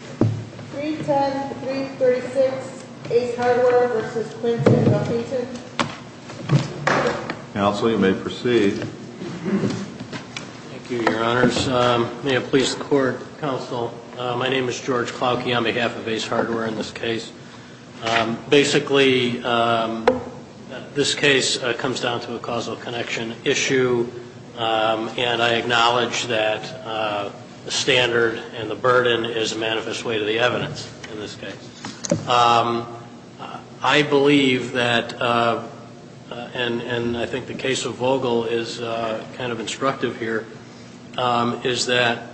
310336 Ace Hardware v. Quinton Huffington Counsel, you may proceed. Thank you, Your Honors. May it please the Court, Counsel. My name is George Clawkey on behalf of Ace Hardware in this case. Basically, this case comes down to a causal connection issue, and I acknowledge that the standard and the burden is a manifest way to the evidence in this case. I believe that, and I think the case of Vogel is kind of instructive here, is that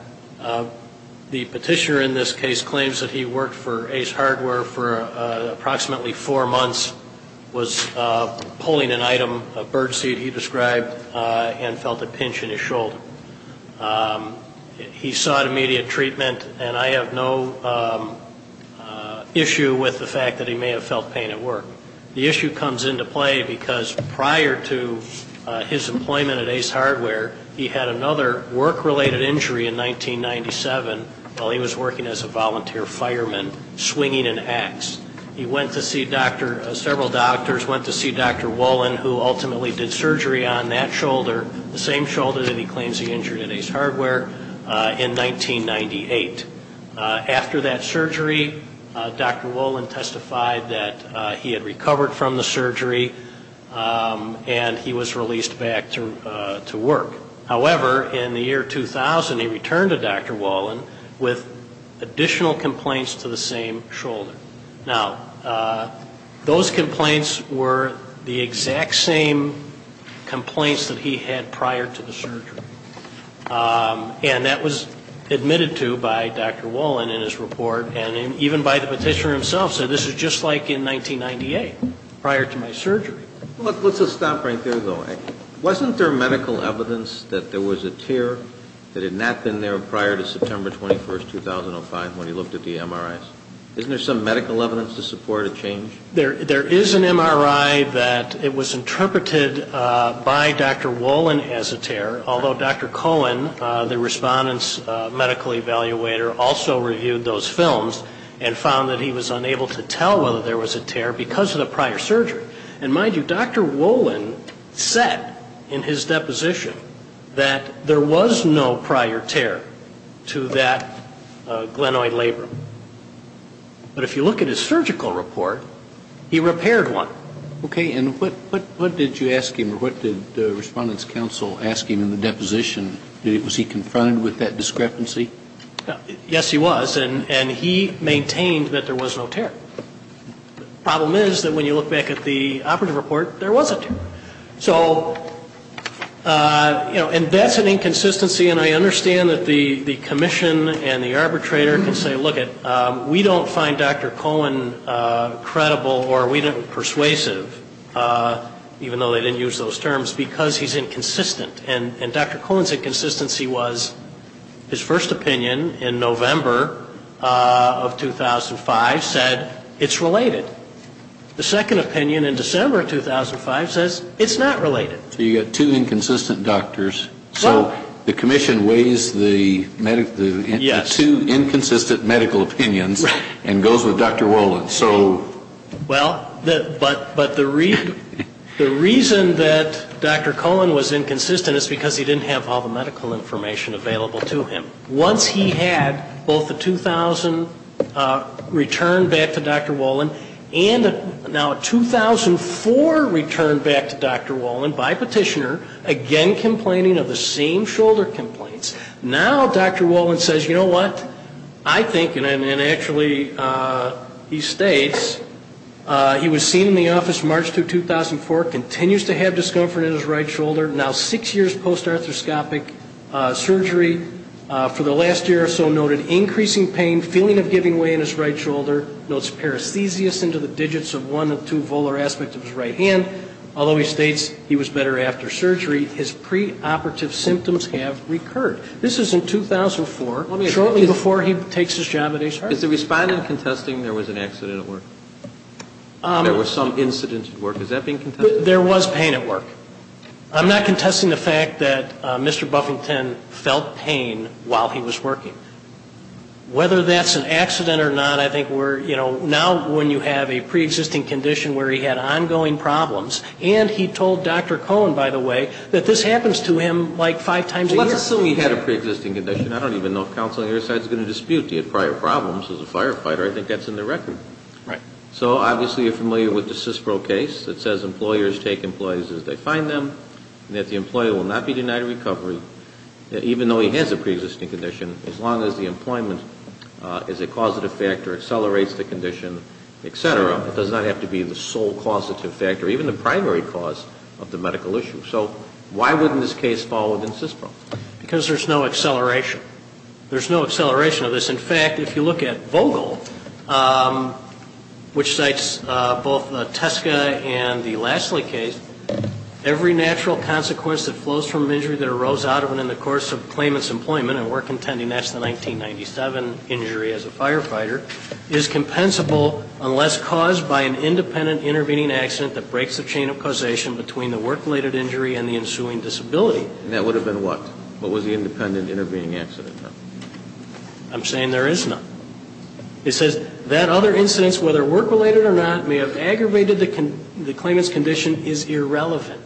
the petitioner in this case claims that he worked for Ace Hardware for approximately four months, was pulling an item, a birdseed he described, and felt a pinch in his shoulder. He sought immediate treatment, and I have no issue with the fact that he may have felt pain at work. The issue comes into play because prior to his employment at Ace Hardware, he had another work-related injury in 1997 while he was working as a volunteer fireman swinging an axe. He went to see several doctors, went to see Dr. Wolin, who ultimately did surgery on that shoulder, the same shoulder that he claims he injured at Ace Hardware, in 1998. After that surgery, Dr. Wolin testified that he had recovered from the surgery, and he was released back to work. However, in the year 2000, he returned to Dr. Wolin with additional complaints to the same shoulder. Now, those complaints were the exact same complaints that he had prior to the surgery, and that was admitted to by Dr. Wolin in his report, and even by the petitioner himself, said this is just like in 1998, prior to my surgery. Let's just stop right there, though. Wasn't there medical evidence that there was a tear that had not been there prior to September 21st, 2005, when he looked at the MRIs? Isn't there some medical evidence to support a change? There is an MRI that it was interpreted by Dr. Wolin as a tear, although Dr. Cohen, the respondent's medical evaluator, also reviewed those films and found that he was unable to tell whether there was a tear because of the prior surgery. And mind you, Dr. Wolin said in his deposition that there was no prior tear to that glenoid labrum. But if you look at his surgical report, he repaired one. Okay. And what did you ask him, or what did the Respondent's Counsel ask him in the deposition? Was he confronted with that discrepancy? Yes, he was. And he maintained that there was no tear. The problem is that when you look back at the operative report, there was a tear. So, you know, and that's an inconsistency. And I understand that the commission and the arbitrator can say, look it, we don't find Dr. Cohen credible or persuasive, even though they didn't use those terms, because he's inconsistent. And Dr. Cohen's inconsistency was his first opinion in November of 2005 said it's related. The second opinion in December of 2005 says it's not related. So you've got two inconsistent doctors. So the commission weighs the two inconsistent medical opinions and goes with Dr. Wolin. Well, but the reason that Dr. Cohen was inconsistent is because he didn't have all the medical information available to him. Once he had both the 2000 return back to Dr. Wolin and now a 2004 return back to Dr. Wolin by petitioner, again complaining of the same shoulder complaints, now Dr. Wolin says, you know what, I think, and actually he states, he was seen in the office March 2, 2004, continues to have discomfort in his right shoulder, now six years post-arthroscopic surgery. For the last year or so noted increasing pain, feeling of giving way in his right shoulder, notes paresthesias into the digits of one or two volar aspects of his right hand. Although he states he was better after surgery, his preoperative symptoms have recurred. This is in 2004, shortly before he takes his job at HR. Is the respondent contesting there was an accident at work? There was some incident at work. Is that being contested? There was pain at work. I'm not contesting the fact that Mr. Buffington felt pain while he was working. Whether that's an accident or not, I think we're, you know, now when you have a preexisting condition where he had ongoing problems, and he told Dr. Cohen, by the way, that this happens to him like five times a year. Let's assume he had a preexisting condition. I don't even know if counsel on your side is going to dispute the prior problems as a firefighter. I think that's in the record. Right. So obviously you're familiar with the CISPRO case that says employers take employees as they find them, and that the employer will not be denied recovery even though he has a preexisting condition, as long as the employment is a causative factor, accelerates the condition, et cetera. It does not have to be the sole causative factor, even the primary cause of the medical issue. So why wouldn't this case fall within CISPRO? Because there's no acceleration. There's no acceleration of this. In fact, if you look at Vogel, which cites both the Teske and the Lassley case, every natural consequence that flows from an injury that arose out of and in the course of claimant's employment, and we're contending that's the 1997 injury as a firefighter, is compensable unless caused by an independent intervening accident that breaks the chain of causation between the work-related injury and the ensuing disability. And that would have been what? What was the independent intervening accident? I'm saying there is none. It says that other incidents, whether work-related or not, may have aggravated the claimant's condition is irrelevant.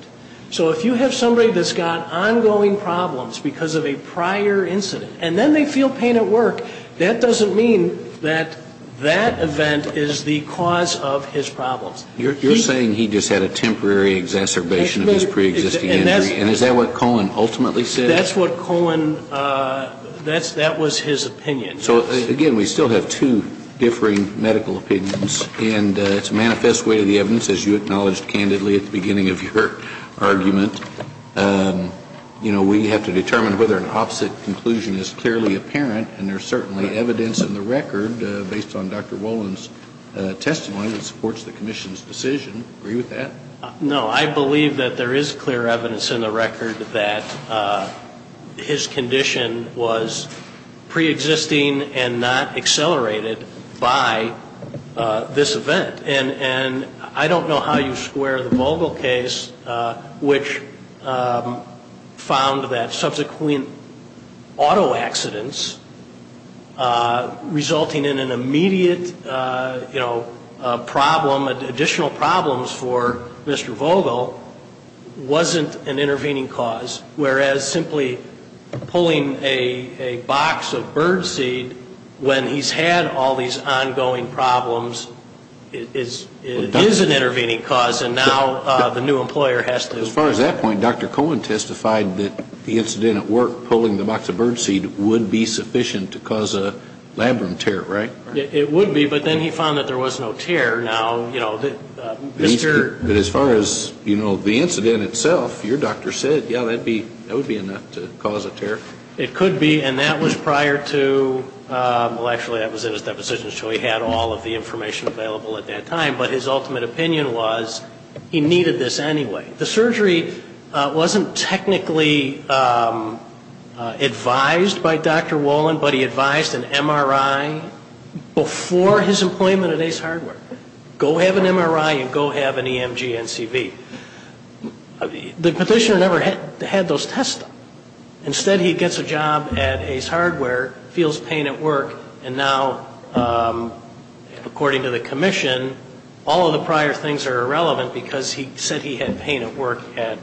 So if you have somebody that's got ongoing problems because of a prior incident, and then they feel pain at work, that doesn't mean that that event is the cause of his problems. You're saying he just had a temporary exacerbation of his preexisting injury, and is that what Cohen ultimately said? That's what Cohen, that was his opinion. So, again, we still have two differing medical opinions, and it's a manifest way of the evidence, as you acknowledged candidly at the beginning of your argument. You know, we have to determine whether an opposite conclusion is clearly apparent, and there's certainly evidence in the record based on Dr. Wolin's testimony that supports the commission's decision. Agree with that? No. I believe that there is clear evidence in the record that his condition was preexisting and not accelerated by this event. And I don't know how you square the Vogel case, which found that subsequent auto accidents resulting in an immediate, you know, problem, additional problems for Mr. Vogel wasn't an intervening cause, whereas simply pulling a box of birdseed when he's had all these ongoing problems is an intervening cause, and now the new employer has to. As far as that point, Dr. Cohen testified that the incident at work, pulling the box of birdseed, would be sufficient to cause a labrum tear, right? It would be, but then he found that there was no tear. But as far as, you know, the incident itself, your doctor said, yeah, that would be enough to cause a tear. It could be, and that was prior to, well, actually that was in his deposition, so he had all of the information available at that time, but his ultimate opinion was he needed this anyway. The surgery wasn't technically advised by Dr. Wolin, but he advised an MRI before his employment at Ace Hardware. Go have an MRI and go have an EMG-NCV. The petitioner never had those tests done. Instead, he gets a job at Ace Hardware, feels pain at work, and now, according to the commission, all of the prior things are irrelevant because he said he had pain at work at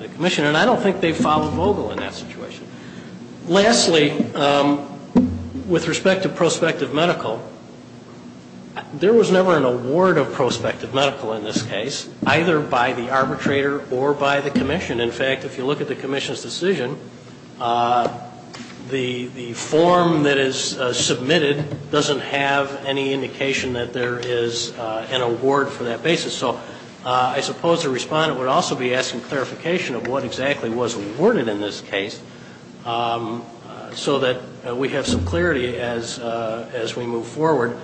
the commission, and I don't think they followed Vogel in that situation. Lastly, with respect to prospective medical, there was never an award of prospective medical in this case, either by the arbitrator or by the commission. In fact, if you look at the commission's decision, the form that is submitted doesn't have any indication that there is an award for that basis. So I suppose the respondent would also be asking clarification of what exactly was awarded in this case so that we have some clarity as we move forward.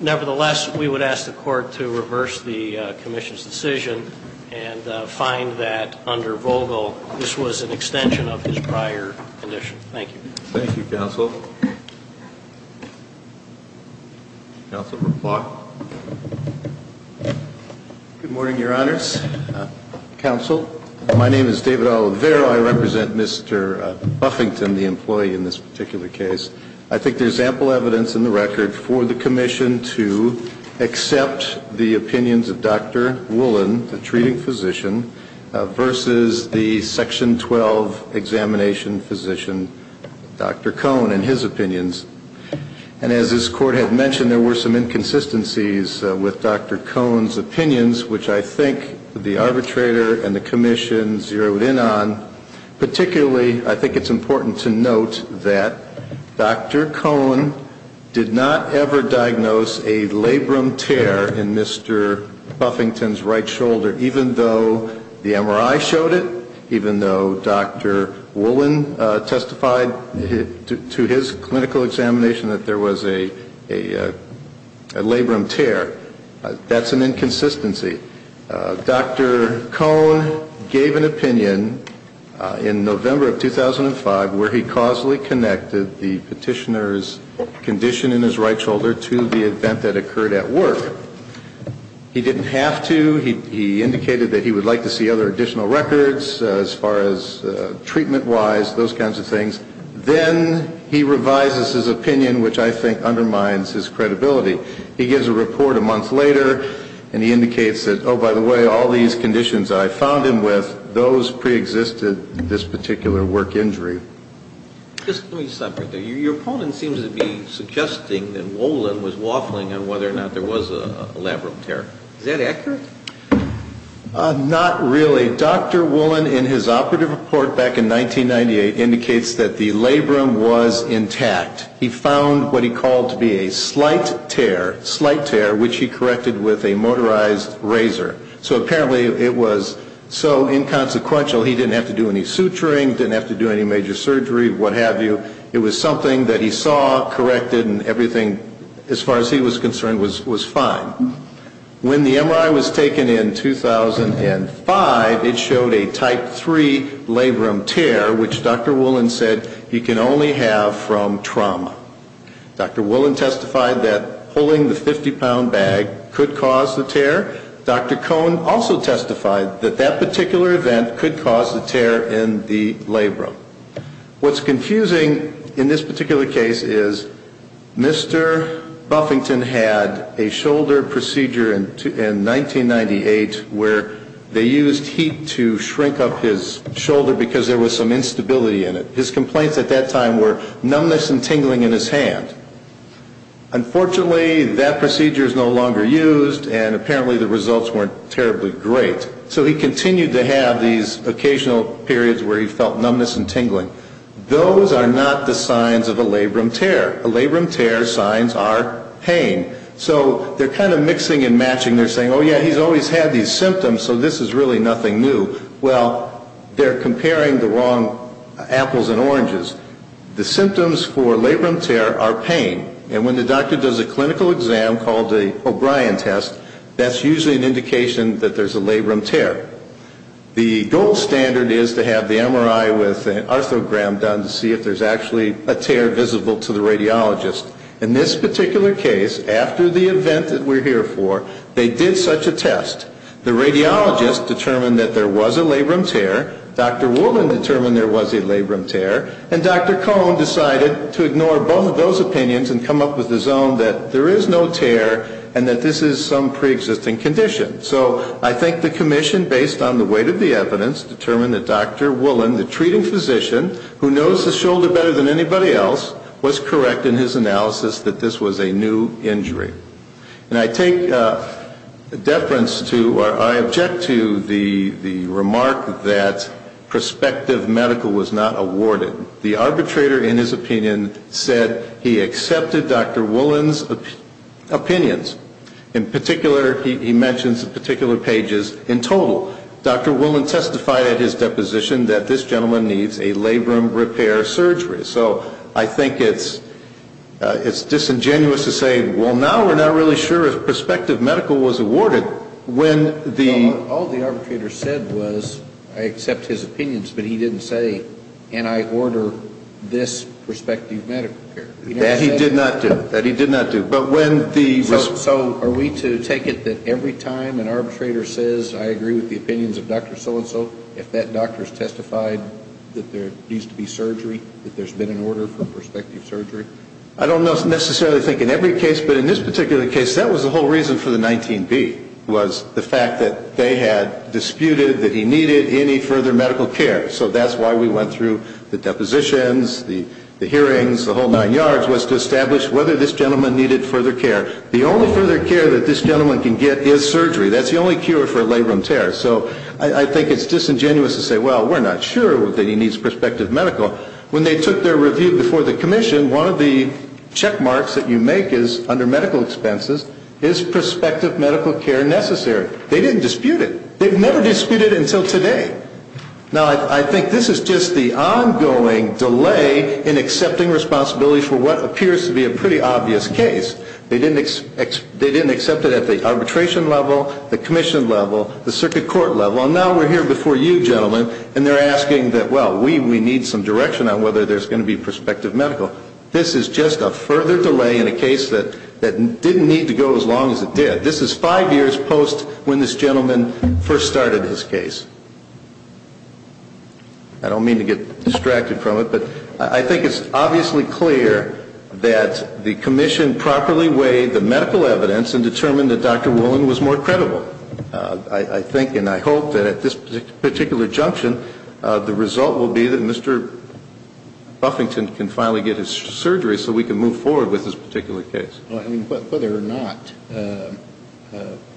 Nevertheless, we would ask the court to reverse the commission's decision and find that under Vogel this was an extension of his prior condition. Thank you. Thank you, counsel. Counsel, reply. Good morning, Your Honors. Counsel, my name is David Oliveira. I represent Mr. Buffington, the employee in this particular case. I think there's ample evidence in the record for the commission to accept the opinions of Dr. Woolin, the treating physician, versus the Section 12 examination physician, Dr. Cohn. And as this Court had mentioned, there were some inconsistencies with Dr. Cohn's opinions, which I think the arbitrator and the commission zeroed in on. Particularly, I think it's important to note that Dr. Cohn did not ever diagnose a labrum tear in Mr. Buffington's right shoulder, even though the MRI showed it, even though Dr. Woolin testified to his clinical examination that there was a labrum tear. That's an inconsistency. Dr. Cohn gave an opinion in November of 2005 where he causally connected the petitioner's condition in his right shoulder to the event that occurred at work. He didn't have to. He indicated that he would like to see other additional records as far as treatment-wise, those kinds of things. Then he revises his opinion, which I think undermines his credibility. He gives a report a month later, and he indicates that, oh, by the way, all these conditions I found him with, those preexisted this particular work injury. Let me stop right there. Your opponent seems to be suggesting that Woolin was waffling on whether or not there was a labrum tear. Is that accurate? Not really. Dr. Woolin in his operative report back in 1998 indicates that the labrum was intact. He found what he called to be a slight tear, which he corrected with a motorized razor. So apparently it was so inconsequential he didn't have to do any suturing, didn't have to do any major surgery, what have you. It was something that he saw, corrected, and everything, as far as he was concerned, was fine. When the MRI was taken in 2005, it showed a type 3 labrum tear, which Dr. Woolin said he can only have from trauma. Dr. Woolin testified that pulling the 50-pound bag could cause the tear. Dr. Cohn also testified that that particular event could cause the tear in the labrum. What's confusing in this particular case is Mr. Buffington had a shoulder procedure in 1998 where they used heat to shrink up his shoulder because there was some instability in it. His complaints at that time were numbness and tingling in his hand. Unfortunately, that procedure is no longer used, and apparently the results weren't terribly great. So he continued to have these occasional periods where he felt numbness and tingling. Those are not the signs of a labrum tear. A labrum tear's signs are pain. So they're kind of mixing and matching. They're saying, oh, yeah, he's always had these symptoms, so this is really nothing new. Well, they're comparing the wrong apples and oranges. The symptoms for labrum tear are pain. And when the doctor does a clinical exam called the O'Brien test, that's usually an indication that there's a labrum tear. The gold standard is to have the MRI with an arthrogram done to see if there's actually a tear visible to the radiologist. In this particular case, after the event that we're here for, they did such a test. The radiologist determined that there was a labrum tear. Dr. Woolin determined there was a labrum tear. And Dr. Cohn decided to ignore both of those opinions and come up with his own, that there is no tear and that this is some preexisting condition. So I think the commission, based on the weight of the evidence, determined that Dr. Woolin, the treating physician who knows his shoulder better than anybody else, was correct in his analysis that this was a new injury. And I take deference to or I object to the remark that prospective medical was not awarded. The arbitrator, in his opinion, said he accepted Dr. Woolin's opinions. In particular, he mentions particular pages. In total, Dr. Woolin testified at his deposition that this gentleman needs a labrum repair surgery. So I think it's disingenuous to say, well, now we're not really sure if prospective medical was awarded. All the arbitrator said was, I accept his opinions, but he didn't say, and I order this prospective medical care. That he did not do. So are we to take it that every time an arbitrator says, I agree with the opinions of Dr. So-and-so, if that doctor has testified that there needs to be surgery, that there's been an order for prospective surgery? I don't necessarily think in every case, but in this particular case, that was the whole reason for the 19B, was the fact that they had disputed that he needed any further medical care. So that's why we went through the depositions, the hearings, the whole nine yards, was to establish whether this gentleman needed further care. The only further care that this gentleman can get is surgery. That's the only cure for a labrum tear. So I think it's disingenuous to say, well, we're not sure that he needs prospective medical. When they took their review before the commission, one of the check marks that you make is, under medical expenses, is prospective medical care necessary? They didn't dispute it. They've never disputed it until today. Now, I think this is just the ongoing delay in accepting responsibility for what appears to be a pretty obvious case. They didn't accept it at the arbitration level, the commission level, the circuit court level, and now we're here before you, gentlemen, and they're asking that, well, we need some direction on whether there's going to be prospective medical. This is just a further delay in a case that didn't need to go as long as it did. This is five years post when this gentleman first started his case. I don't mean to get distracted from it, but I think it's obviously clear that the commission properly weighed the medical evidence and determined that Dr. Woolen was more credible. I think and I hope that at this particular junction, the result will be that Mr. Buffington can finally get his surgery so we can move forward with this particular case. I mean, whether or not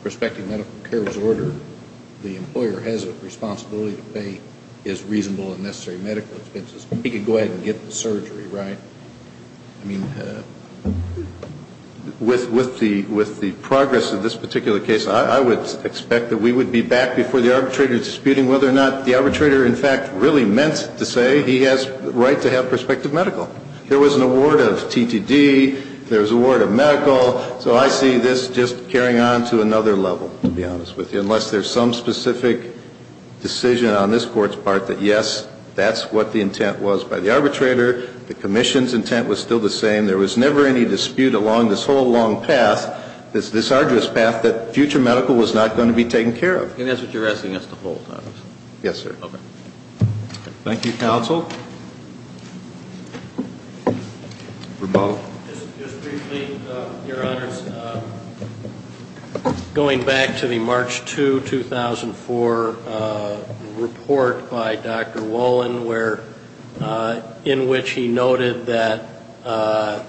prospective medical care was ordered, the employer has a responsibility to pay his reasonable and necessary medical expenses. He can go ahead and get the surgery, right? I mean, with the progress of this particular case, I would expect that we would be back before the arbitrator disputing whether or not the arbitrator, in fact, really meant to say he has the right to have prospective medical. There was an award of TTD. There was an award of medical. So I see this just carrying on to another level, to be honest with you, unless there's some specific decision on this Court's part that, yes, that's what the intent was by the arbitrator. The commission's intent was still the same. There was never any dispute along this whole long path, this arduous path, that future medical was not going to be taken care of. And that's what you're asking us to hold on? Yes, sir. Okay. Thank you, counsel. Just briefly, Your Honors, going back to the March 2, 2004 report by Dr. Wolin, where in which he noted that the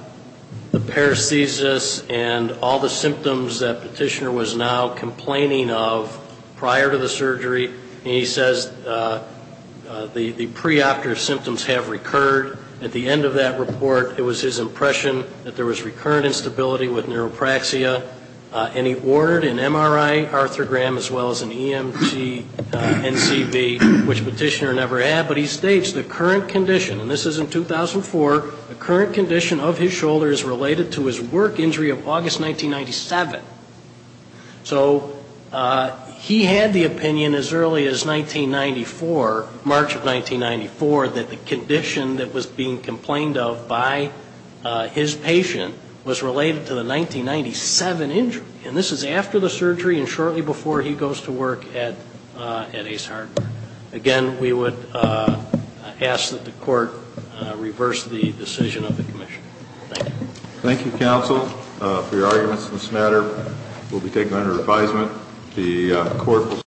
paresthesis and all the symptoms that Petitioner was now complaining of prior to the surgery, and he says the pre-opter symptoms have recurred. At the end of that report, it was his impression that there was recurrent instability with neuropraxia, and he ordered an MRI arthrogram as well as an EMG NCV, which Petitioner never had. But he states the current condition, and this is in 2004, the current condition of his shoulder is related to his work injury of August 1997. So he had the opinion as early as 1994, March of 1994, that the condition that was being complained of by his patient was related to the 1997 injury. And this is after the surgery and shortly before he goes to work at Ace Hardware. Again, we would ask that the court reverse the decision of the commission. Thank you. Thank you, counsel, for your arguments on this matter. We'll be taking it under advisement.